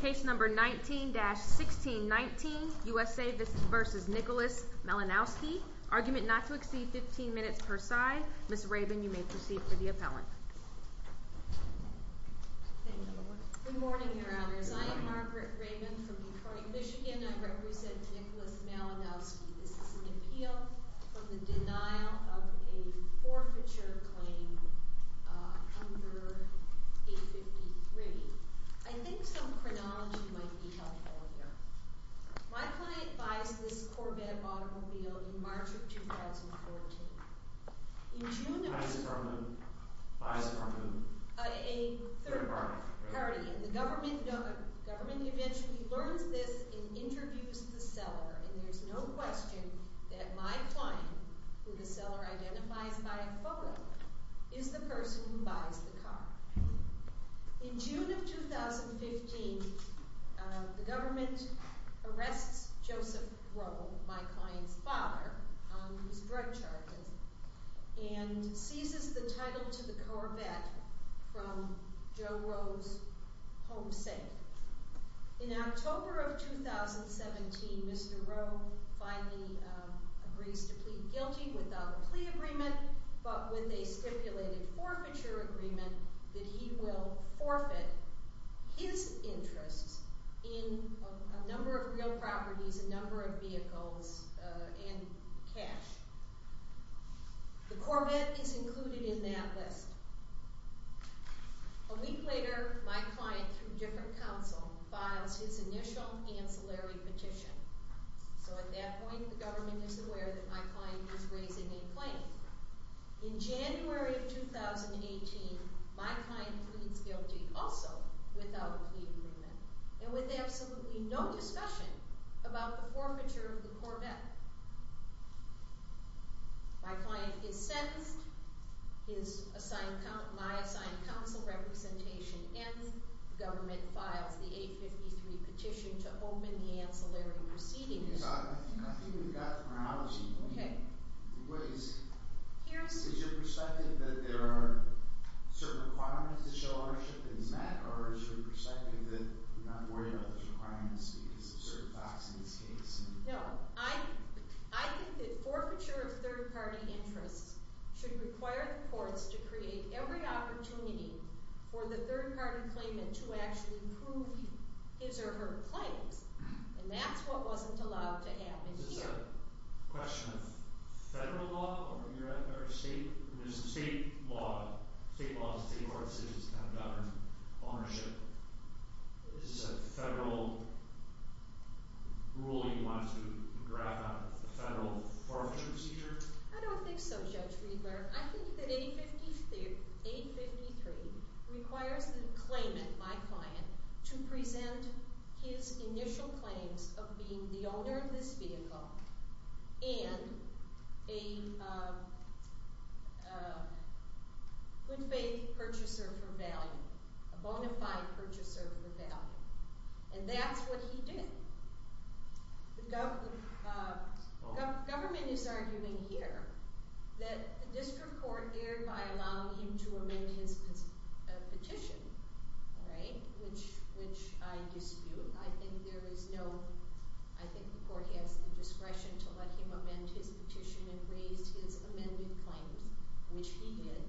Case number 19-1619, USA v. Nicholas Malinowski, argument not to exceed 15 minutes per side. Ms. Rabin, you may proceed for the appellant. Thank you. Good morning, Your Honors. I am Margaret Rabin from Detroit, Michigan. I represent Nicholas Malinowski. This is an appeal for the denial of a forfeiture claim under 853. I think some chronology might be helpful here. My client buys this Corvette automobile in March of 2014. In June of 2014, a third party, the government eventually learns this and interviews the seller. And there's no question that my client, who the seller identifies by a photo, is the person who buys the car. In June of 2015, the government arrests Joseph Rowe, my client's father, on his drug charges, and seizes the title to the Corvette from Joe Rowe's home safe. In October of 2017, Mr. Rowe finally agrees to plead guilty without a plea agreement, but with a stipulated forfeiture agreement that he will forfeit his interests in a number of real properties, a number of vehicles, and cash. The Corvette is included in that list. A week later, my client, through different counsel, files his initial ancillary petition. So at that point, the government is aware that my client is raising a claim. In January of 2018, my client pleads guilty also without a plea agreement and with absolutely no discussion about the forfeiture of the Corvette. My client is sentenced. My assigned counsel representation ends. The government files the 853 petition to open the ancillary proceedings. I think we've got the chronology. Okay. Is your perspective that there are certain requirements to show ownership in this matter, or is your perspective that we're not worried about those requirements because of certain facts in this case? No. I think that forfeiture of third-party interests should require the courts to create every opportunity for the third-party claimant to actually prove his or her claims, and that's what wasn't allowed to happen here. Is this a question of federal law? Or is it state law? State law is the state court's decision to have government ownership. Is this a federal rule you want to draft out of the federal forfeiture procedure? I don't think so, Judge Riedler. I think that 853 requires the claimant, my client, to present his initial claims of being the owner of this vehicle and a good faith purchaser for value, a bona fide purchaser for value, and that's what he did. The government is arguing here that the district court thereby allowed him to amend his petition, which I dispute. I think the court has the discretion to let him amend his petition and raise his amended claims, which he did.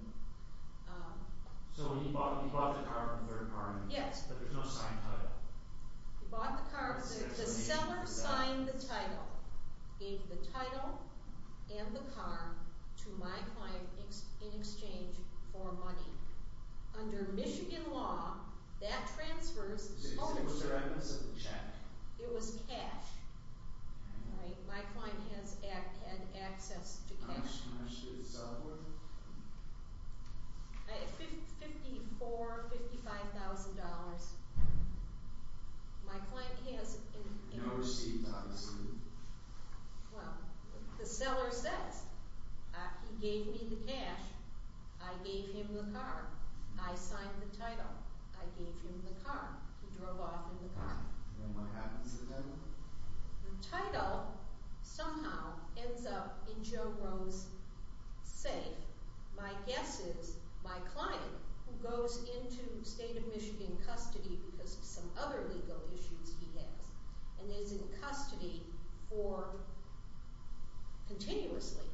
So he bought the car from the third party? Yes. But there's no signed title? He bought the car. The seller signed the title. Gave the title and the car to my client in exchange for money. Under Michigan law, that transfers ownership. It was cash. My client had access to cash. How much did it sell for? $54,000, $55,000. My client has... No receipt, obviously. Well, the seller says he gave me the cash. I gave him the car. I signed the title. I gave him the car. He drove off in the car. And what happens to them? The title somehow ends up in Joe Rowe's safe. My guess is my client, who goes into state of Michigan custody because of some other legal issues he has, and is in custody for... continuously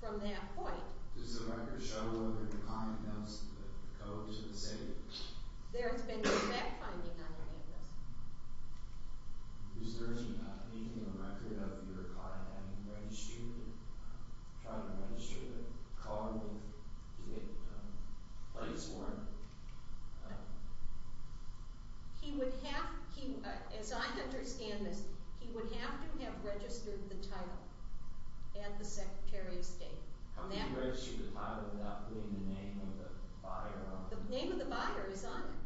from that point... Does the record show where the client has the code to the safe? There has been no backfinding on any of this. He would have... As I understand this, he would have to have registered the title at the Secretary of State. How can you register the title without putting the name of the buyer on it? The name of the buyer is on it.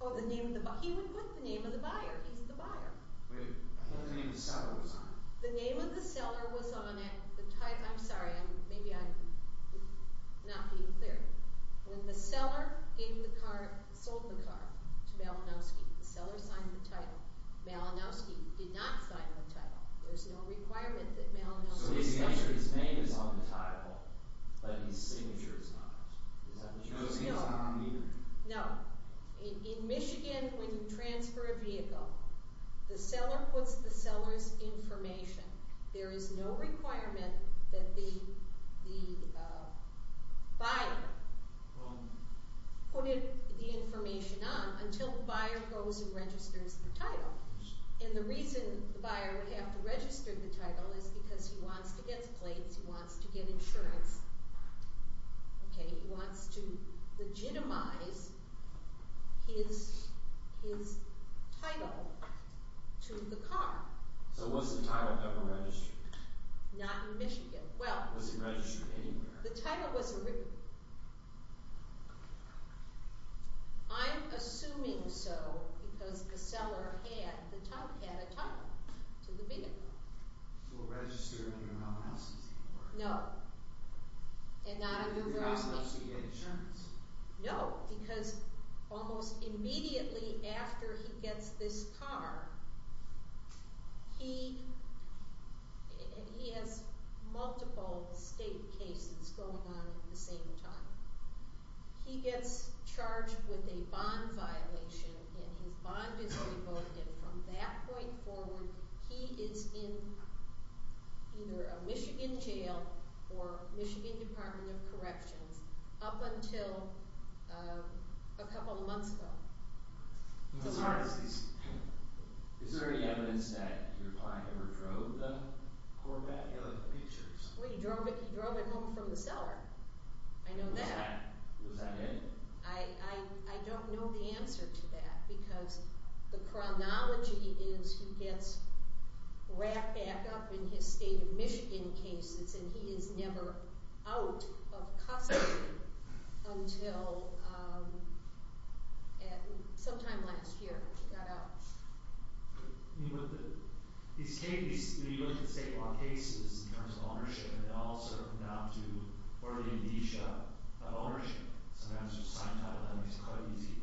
Oh, the name of the... He would put the name of the buyer. He's the buyer. Wait, what if the name of the seller was on it? The name of the seller was on it. I'm sorry. Maybe I'm not being clear. When the seller sold the car to Malinowski, the seller signed the title. Malinowski did not sign the title. There's no requirement that Malinowski sign it. So basically, I'm sure his name is on the title, but his signature is not. Is that what you're saying? No. No. In Michigan, when you transfer a vehicle, the seller puts the seller's information. There is no requirement that the buyer put the information on until the buyer goes and registers the title. And the reason the buyer would have to register the title is because he wants to get plates. He wants to get insurance. He wants to legitimize his title to the car. So was the title ever registered? Not in Michigan. Was it registered anywhere? The title was... I'm assuming so because the seller had a title to the vehicle. So it was registered under Malinowski's name? No. And not in New Brunswick. Did Malinowski get insurance? No, because almost immediately after he gets this car, he has multiple state cases going on at the same time. He gets charged with a bond violation and his bond is revoked. And from that point forward, he is in either a Michigan jail or Michigan Department of Corrections up until a couple months ago. Is there any evidence that your client ever drove the Corvette? Well, he drove it home from the seller. I know that. Was that it? I don't know the answer to that because the chronology is he gets wrapped back up in his state of Michigan cases and he is never out of custody until sometime last year when he got out. When you look at state law cases in terms of ownership, they all sort of come down to or the amnesia of ownership. Sometimes there's sign title, that makes it quite easy.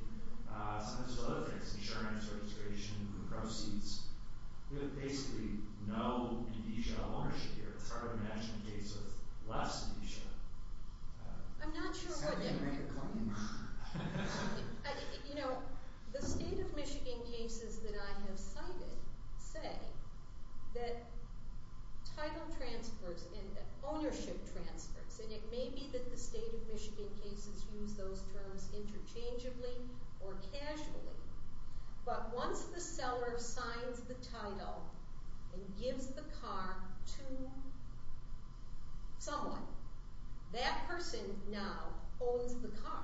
Sometimes there's other things, insurance, registration, proceeds. There's basically no amnesia of ownership here. It's hard to imagine a case with less amnesia. I'm not sure what... You know, the state of Michigan cases that I have cited say that title transfers and ownership transfers, and it may be that the state of Michigan cases use those terms interchangeably or casually, but once the seller signs the title and gives the car to someone, that person now owns the car,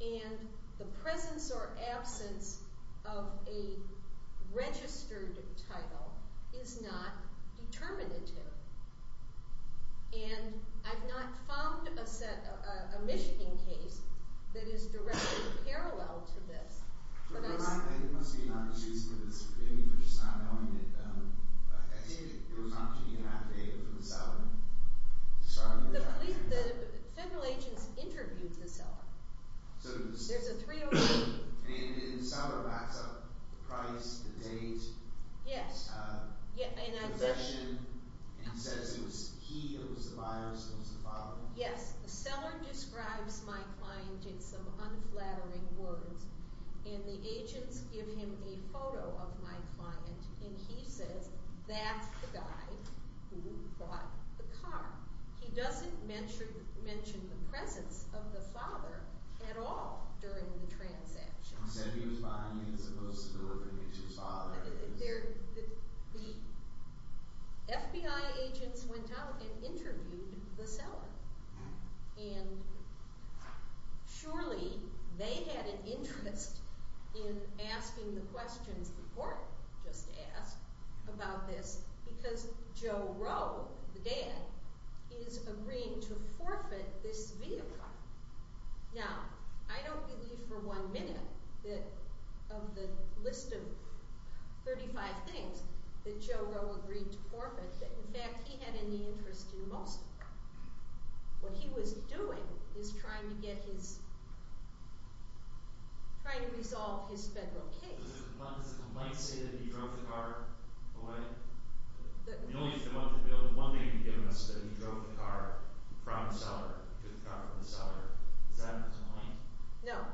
and the presence or absence of a registered title is not determinative. And I've not found a Michigan case that is directly parallel to this. The federal agents interviewed the seller. There's a 308. Yes. Yes. Yes. The seller describes my client in some unflattering words, and the agents give him a photo of my client, and he says, that's the guy who bought the car. He doesn't mention the presence of the father at all during the transaction. He said he was buying it as opposed to the location of the father. The FBI agents went out and interviewed the seller, and surely they had an interest in asking the questions the court just asked about this because Joe Rowe, the dad, is agreeing to forfeit this vehicle. Now, I don't believe for one minute that of the list of 35 things that Joe Rowe agreed to forfeit that, in fact, he had any interest in most of them. What he was doing is trying to get his – trying to resolve his federal case. Does the complaint say that he drove the car away? The only thing – the only one thing you've given us is that he drove the car from the seller. He took the car from the seller. Is that the complaint? No,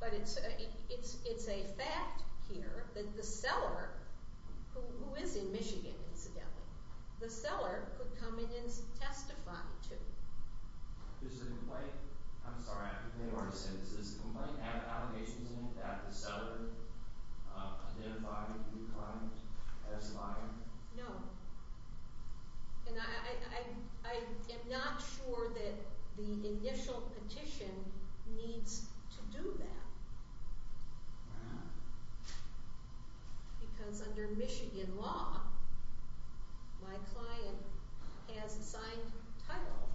but it's a fact here that the seller, who is in Michigan, incidentally, the seller could come in and testify to. Is the complaint – I'm sorry. They already said this. Does the complaint have allegations in it that the seller identified the new client as lying? No, and I am not sure that the initial petition needs to do that because under Michigan law, my client has a signed title.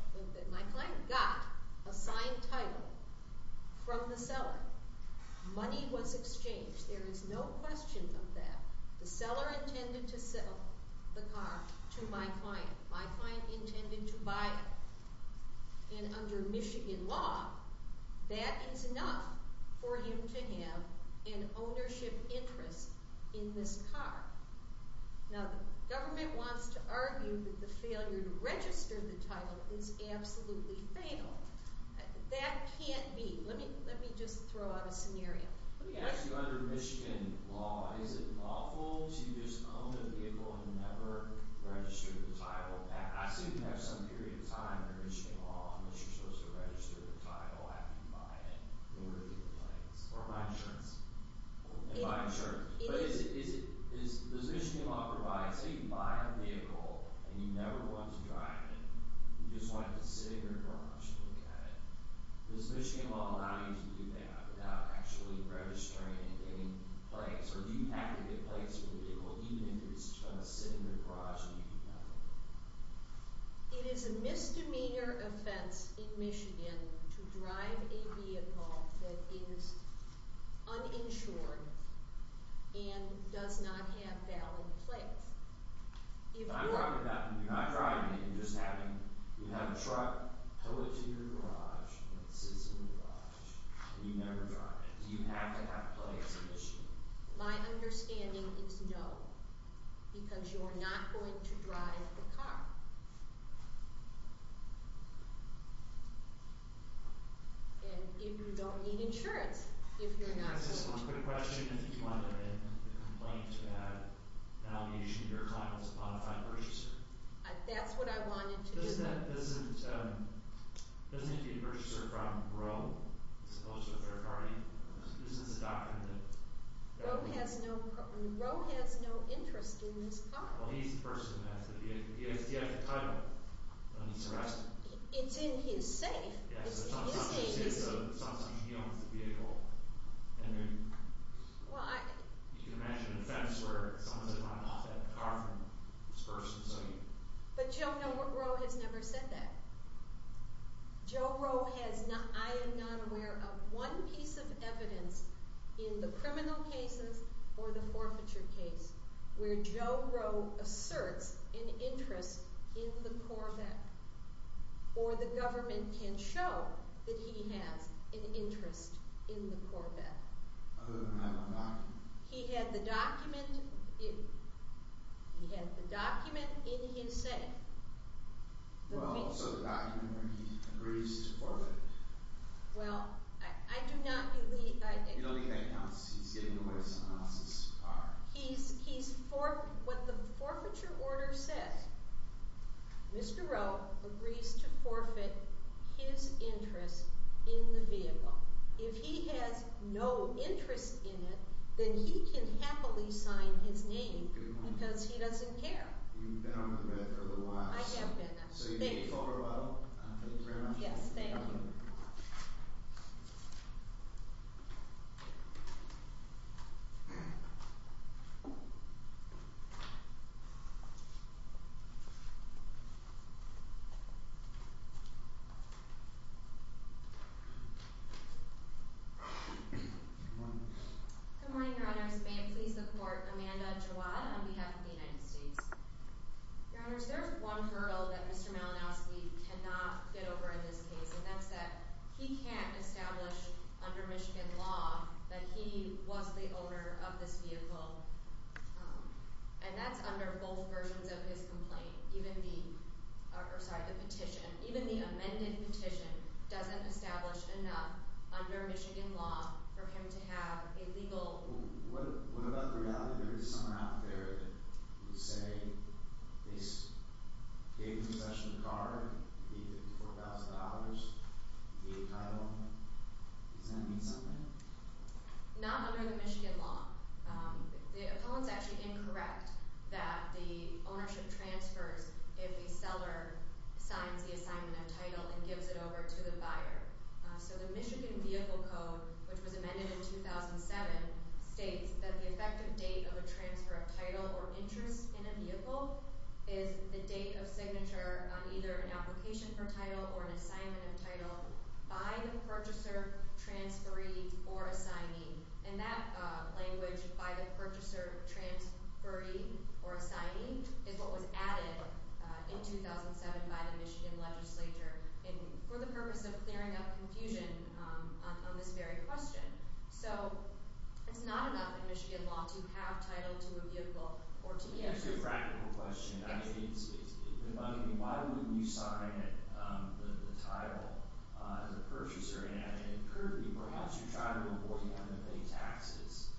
My client got a signed title from the seller. Money was exchanged. There is no question of that. The seller intended to sell the car to my client. My client intended to buy it. And under Michigan law, that is enough for you to have an ownership interest in this car. Now, the government wants to argue that the failure to register the title is absolutely fatal. That can't be. Let me just throw out a scenario. Let me ask you, under Michigan law, is it lawful to just own the vehicle and never register the title? I assume you have some period of time under Michigan law in which you're supposed to register the title after you buy it and review the plates or buy insurance and buy insurance. But does Michigan law provide – say you buy a vehicle and you never want to drive it. You just want it to sit in your garage and look at it. Does Michigan law allow you to do that without actually registering and getting plates? Or do you have to get plates for the vehicle even if it's just going to sit in your garage and you do nothing with it? It is a misdemeanor offense in Michigan to drive a vehicle that is uninsured and does not have valid plates. If you're – I'm talking about you're not driving it. You're just having – you have a truck tow it to your garage and it sits in your garage and you never drive it. Do you have to have plates in Michigan? My understanding is no, because you're not going to drive the car. And you don't need insurance if you're not going to drive the car. Can I ask just one quick question? I think you wanted to make a complaint about the validation of your title as a bona fide purchaser. That's what I wanted to do. Doesn't it need to be a purchaser from Roe as opposed to a third party? This is a document that – Roe has no interest in this car. Well, he's the person who has the vehicle. He has the title when he's arrested. It's in his safe. It's in his safe. Yes, it's not something he owns the vehicle. And you can imagine an offense where someone doesn't want to off that car from this person. But Joe Roe has never said that. Joe Roe has – I am not aware of one piece of evidence in the criminal cases or the forfeiture case where Joe Roe asserts an interest in the Corvette. Or the government can show that he has an interest in the Corvette. Other than having a document? He had the document in his safe. Well, so the document where he agrees to forfeit. Well, I do not believe – You don't think that counts. He's giving away someone else's car. He's – what the forfeiture order says, Mr. Roe agrees to forfeit his interest in the vehicle. If he has no interest in it, then he can happily sign his name because he doesn't care. You've been on the Corvette for a little while. I have been. So you can take a photo of it. Yes, thank you. Good morning. Good morning, Your Honors. May it please the Court, Amanda Jawad on behalf of the United States. Your Honors, there is one hurdle that Mr. Malinowski cannot get over in this case, and that's that he can't establish under Michigan law that he was the owner of this vehicle. And that's under both versions of his complaint. Even the – or, sorry, the petition. Even the amended petition doesn't establish enough under Michigan law for him to have a legal – What about the reality that there is someone out there who would say he gave the possession of the car, paid $54,000, paid title? Does that mean something? Not under the Michigan law. The opponent is actually incorrect that the ownership transfers if a seller signs the assignment of title and gives it over to the buyer. So the Michigan Vehicle Code, which was amended in 2007, states that the effective date of a transfer of title or interest in a vehicle is the date of signature on either an application for title or an assignment of title by the purchaser, transferee, or assignee. And that language, by the purchaser, transferee, or assignee, is what was added in 2007 by the Michigan legislature for the purpose of clearing up confusion on this very question. So it's not enough in Michigan law to have title to a vehicle or to – It's a practical question. I mean, why wouldn't you sign the title as a purchaser? And currently, perhaps you're trying to avoid having to pay taxes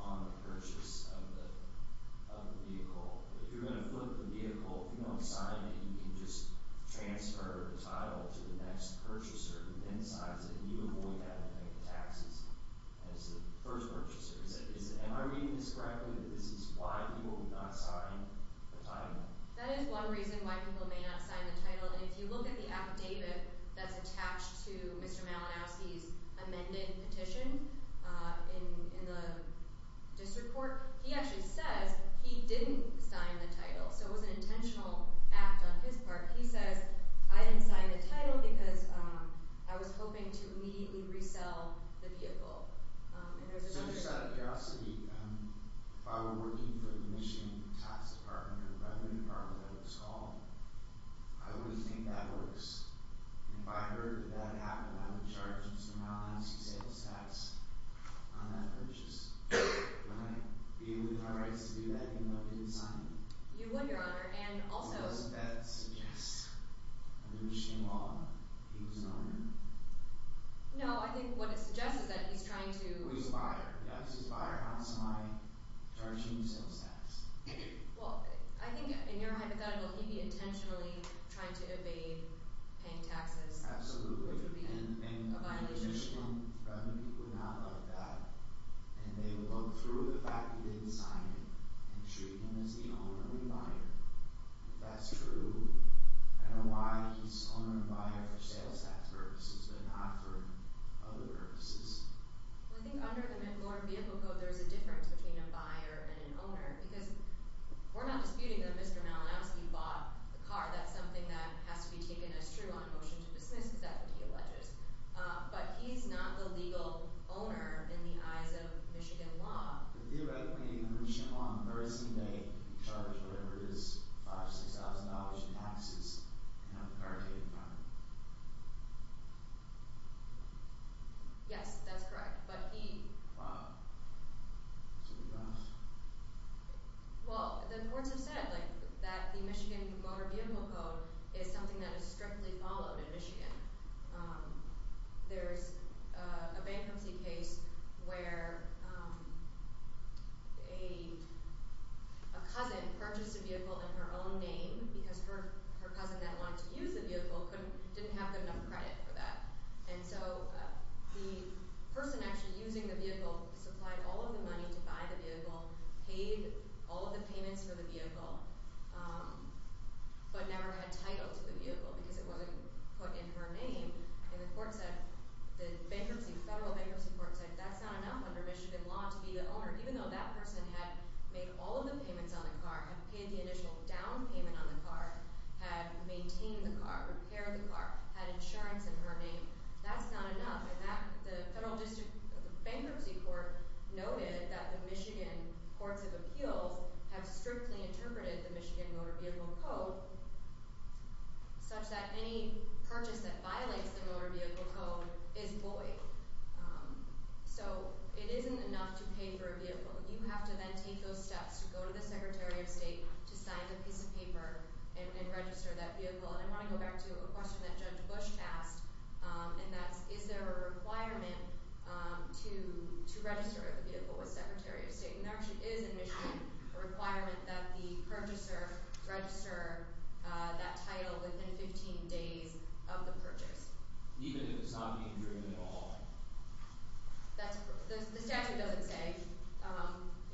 on the purchase of the vehicle. If you're going to flip the vehicle, if you don't sign it, you can just transfer the title to the next purchaser who then signs it. You avoid having to pay the taxes as the first purchaser. Am I reading this correctly, that this is why people would not sign the title? If you look at the affidavit that's attached to Mr. Malinowski's amended petition in the district court, he actually says he didn't sign the title. So it was an intentional act on his part. He says, I didn't sign the title because I was hoping to immediately resell the vehicle. Just out of curiosity, if I were working for the Michigan tax department or the revenue department, I would think that works. If I heard that that happened, I would charge Mr. Malinowski sales tax on that purchase. Would I be able to have rights to do that even though I didn't sign it? You would, Your Honor, and also – Does that suggest under Michigan law he was an owner? No, I think what it suggests is that he's trying to – He's a buyer. Yes, he's a buyer. How else am I charging you sales tax? Well, I think in your hypothetical, he'd be intentionally trying to evade paying taxes. Absolutely. Which would be a violation. And the Michigan revenue people would not like that. And they would look through the fact he didn't sign it and treat him as the owner and buyer. If that's true, I don't know why he's owner and buyer for sales tax purposes. But not for other purposes. Well, I think under the McLaurin Vehicle Code, there's a difference between a buyer and an owner. Because we're not disputing that Mr. Malinowski bought the car. That's something that has to be taken as true on a motion to dismiss. Because that's what he alleges. But he's not the legal owner in the eyes of Michigan law. Theoretically, the Michigan law emergency may charge whatever it is, $5,000 to $6,000 in taxes, and have the car taken by him. Yes, that's correct. But he— Wow. That's a big loss. Well, the courts have said that the Michigan Motor Vehicle Code is something that is strictly followed in Michigan. There is a bankruptcy case where a cousin purchased a vehicle in her own name because her cousin that wanted to use the vehicle didn't have good enough credit for that. And so the person actually using the vehicle supplied all of the money to buy the vehicle, paid all of the payments for the vehicle, but never had title to the vehicle because it wasn't put in her name. And the court said—the federal bankruptcy court said that's not enough under Michigan law to be the owner, even though that person had made all of the payments on the car, had paid the initial down payment on the car, had maintained the car, repaired the car, had insurance in her name. That's not enough. And the federal bankruptcy court noted that the Michigan courts of appeals have strictly interpreted the Michigan Motor Vehicle Code such that any purchase that violates the Motor Vehicle Code is void. So it isn't enough to pay for a vehicle. You have to then take those steps to go to the Secretary of State to sign the piece of paper and register that vehicle. And I want to go back to a question that Judge Bush asked, and that's, is there a requirement to register the vehicle with the Secretary of State? And there actually is in Michigan a requirement that the purchaser register that title within 15 days of the purchase. Even if it's not being driven at all? That's—the statute doesn't say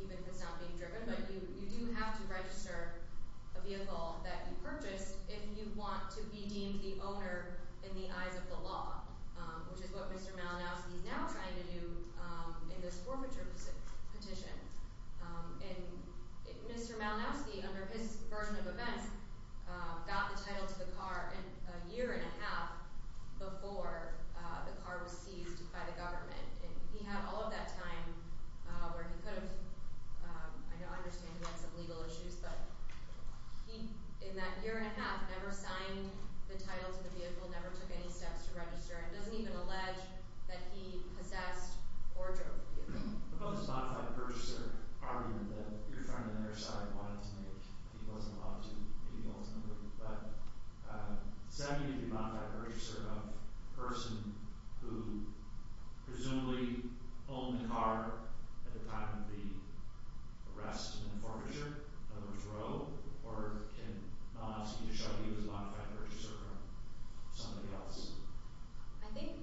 even if it's not being driven, but you do have to register a vehicle that you purchased if you want to be deemed the owner in the eyes of the law, which is what Mr. Malinowski is now trying to do in this forfeiture petition. And Mr. Malinowski, under his version of events, got the title to the car a year and a half before the car was seized by the government. And he had all of that time where he could have—I understand he had some legal issues, but he, in that year and a half, never signed the title to the vehicle, never took any steps to register, and doesn't even allege that he possessed or drove the vehicle. What about this modified purchaser argument that your friend on the other side wanted to make, but he wasn't allowed to, maybe ultimately? But is that going to be a modified purchaser of a person who presumably owned the car at the time of the arrest and the forfeiture, number four, or can Malinowski just show you it was a modified purchaser from somebody else? I think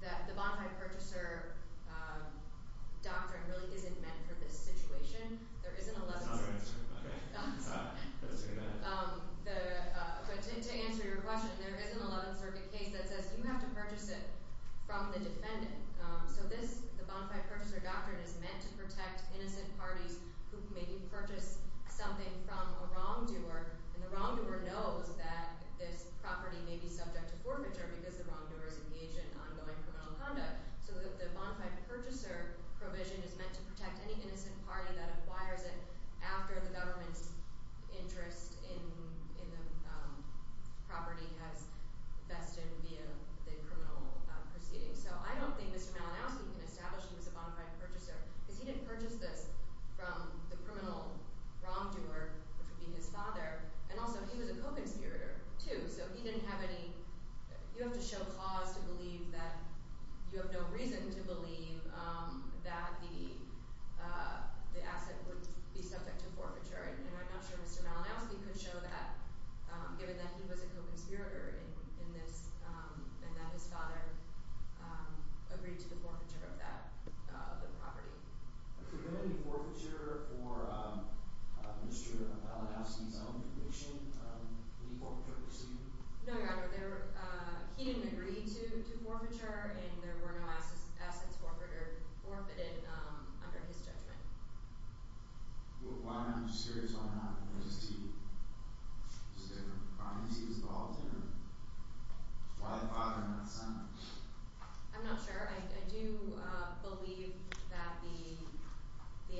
that the modified purchaser doctrine really isn't meant for this situation. There isn't a— It's not an answer, okay? I'm sorry. Let's hear that. But to answer your question, there isn't a 11th Circuit case that says you have to purchase it from the defendant. So this—the modified purchaser doctrine is meant to protect innocent parties who maybe purchased something from a wrongdoer, and the wrongdoer knows that this property may be subject to forfeiture because the wrongdoer is engaged in ongoing criminal conduct. So the modified purchaser provision is meant to protect any innocent party that acquires it after the government's interest in the property has vested via the criminal proceedings. So I don't think Mr. Malinowski can establish he was a modified purchaser because he didn't purchase this from the criminal wrongdoer, which would be his father, and also he was a co-conspirator, too. So he didn't have any—you have to show cause to believe that—you have no reason to believe that the asset would be subject to forfeiture. And I'm not sure Mr. Malinowski could show that, given that he was a co-conspirator in this and that his father agreed to the forfeiture of that—of the property. Could there have been forfeiture for Mr. Malinowski's own conviction? Any forfeiture pursued? No, Your Honor. He didn't agree to forfeiture, and there were no assets forfeited under his judgment. Why not? I'm just curious why not. Was it just because of the crimes he was involved in? I'm not sure. I do believe that the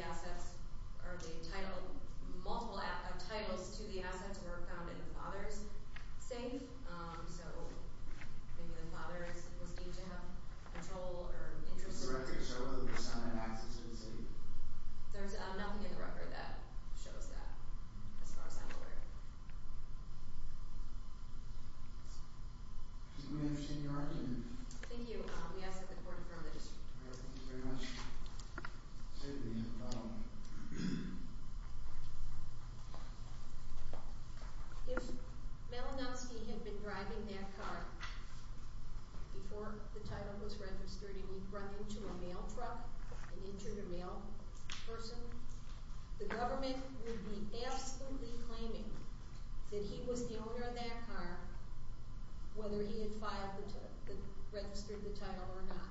assets—or the title—multiple titles to the assets were found in the father's safe. So maybe the father was deemed to have control or interest in— Does the record show that the son had access to the safe? There's nothing in the record that shows that, as far as I'm aware. Do we have senior argument? Thank you. We ask that the court affirm the district. All right. Thank you very much. If Malinowski had been driving that car before the title was registered and he'd run into a mail truck and injured a mail person, the government would be absolutely claiming that he was the owner of that car, whether he had registered the title or not.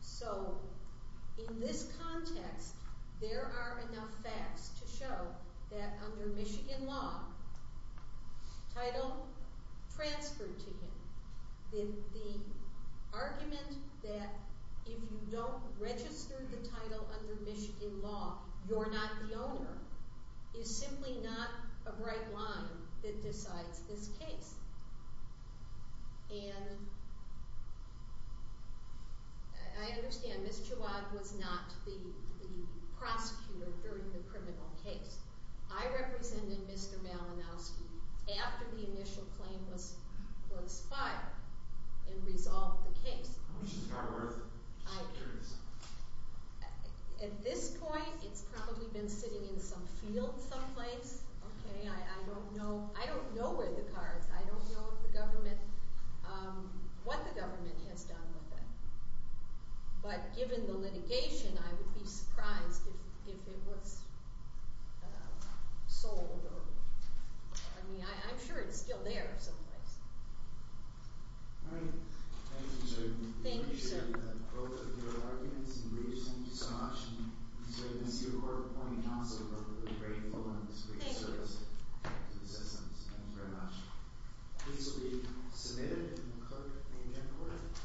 So in this context, there are enough facts to show that under Michigan law, title transferred to him. The argument that if you don't register the title under Michigan law, you're not the owner, is simply not a bright line that decides this case. And I understand Ms. Chouad was not the prosecutor during the criminal case. I represented Mr. Malinowski after the initial claim was filed and resolved the case. Which is not worth it. At this point, it's probably been sitting in some field someplace. I don't know where the car is. I don't know what the government has done with it. But given the litigation, I would be surprised if it was sold. I mean, I'm sure it's still there someplace. All right. Thank you, Ms. Chouad. Thank you, sir. I appreciate both of your arguments and briefs. Thank you so much. And Ms. Chouad, this is your court appointing counsel, and we're really grateful for this great service to the citizens. Thank you very much. This will be submitted to the clerk and the court.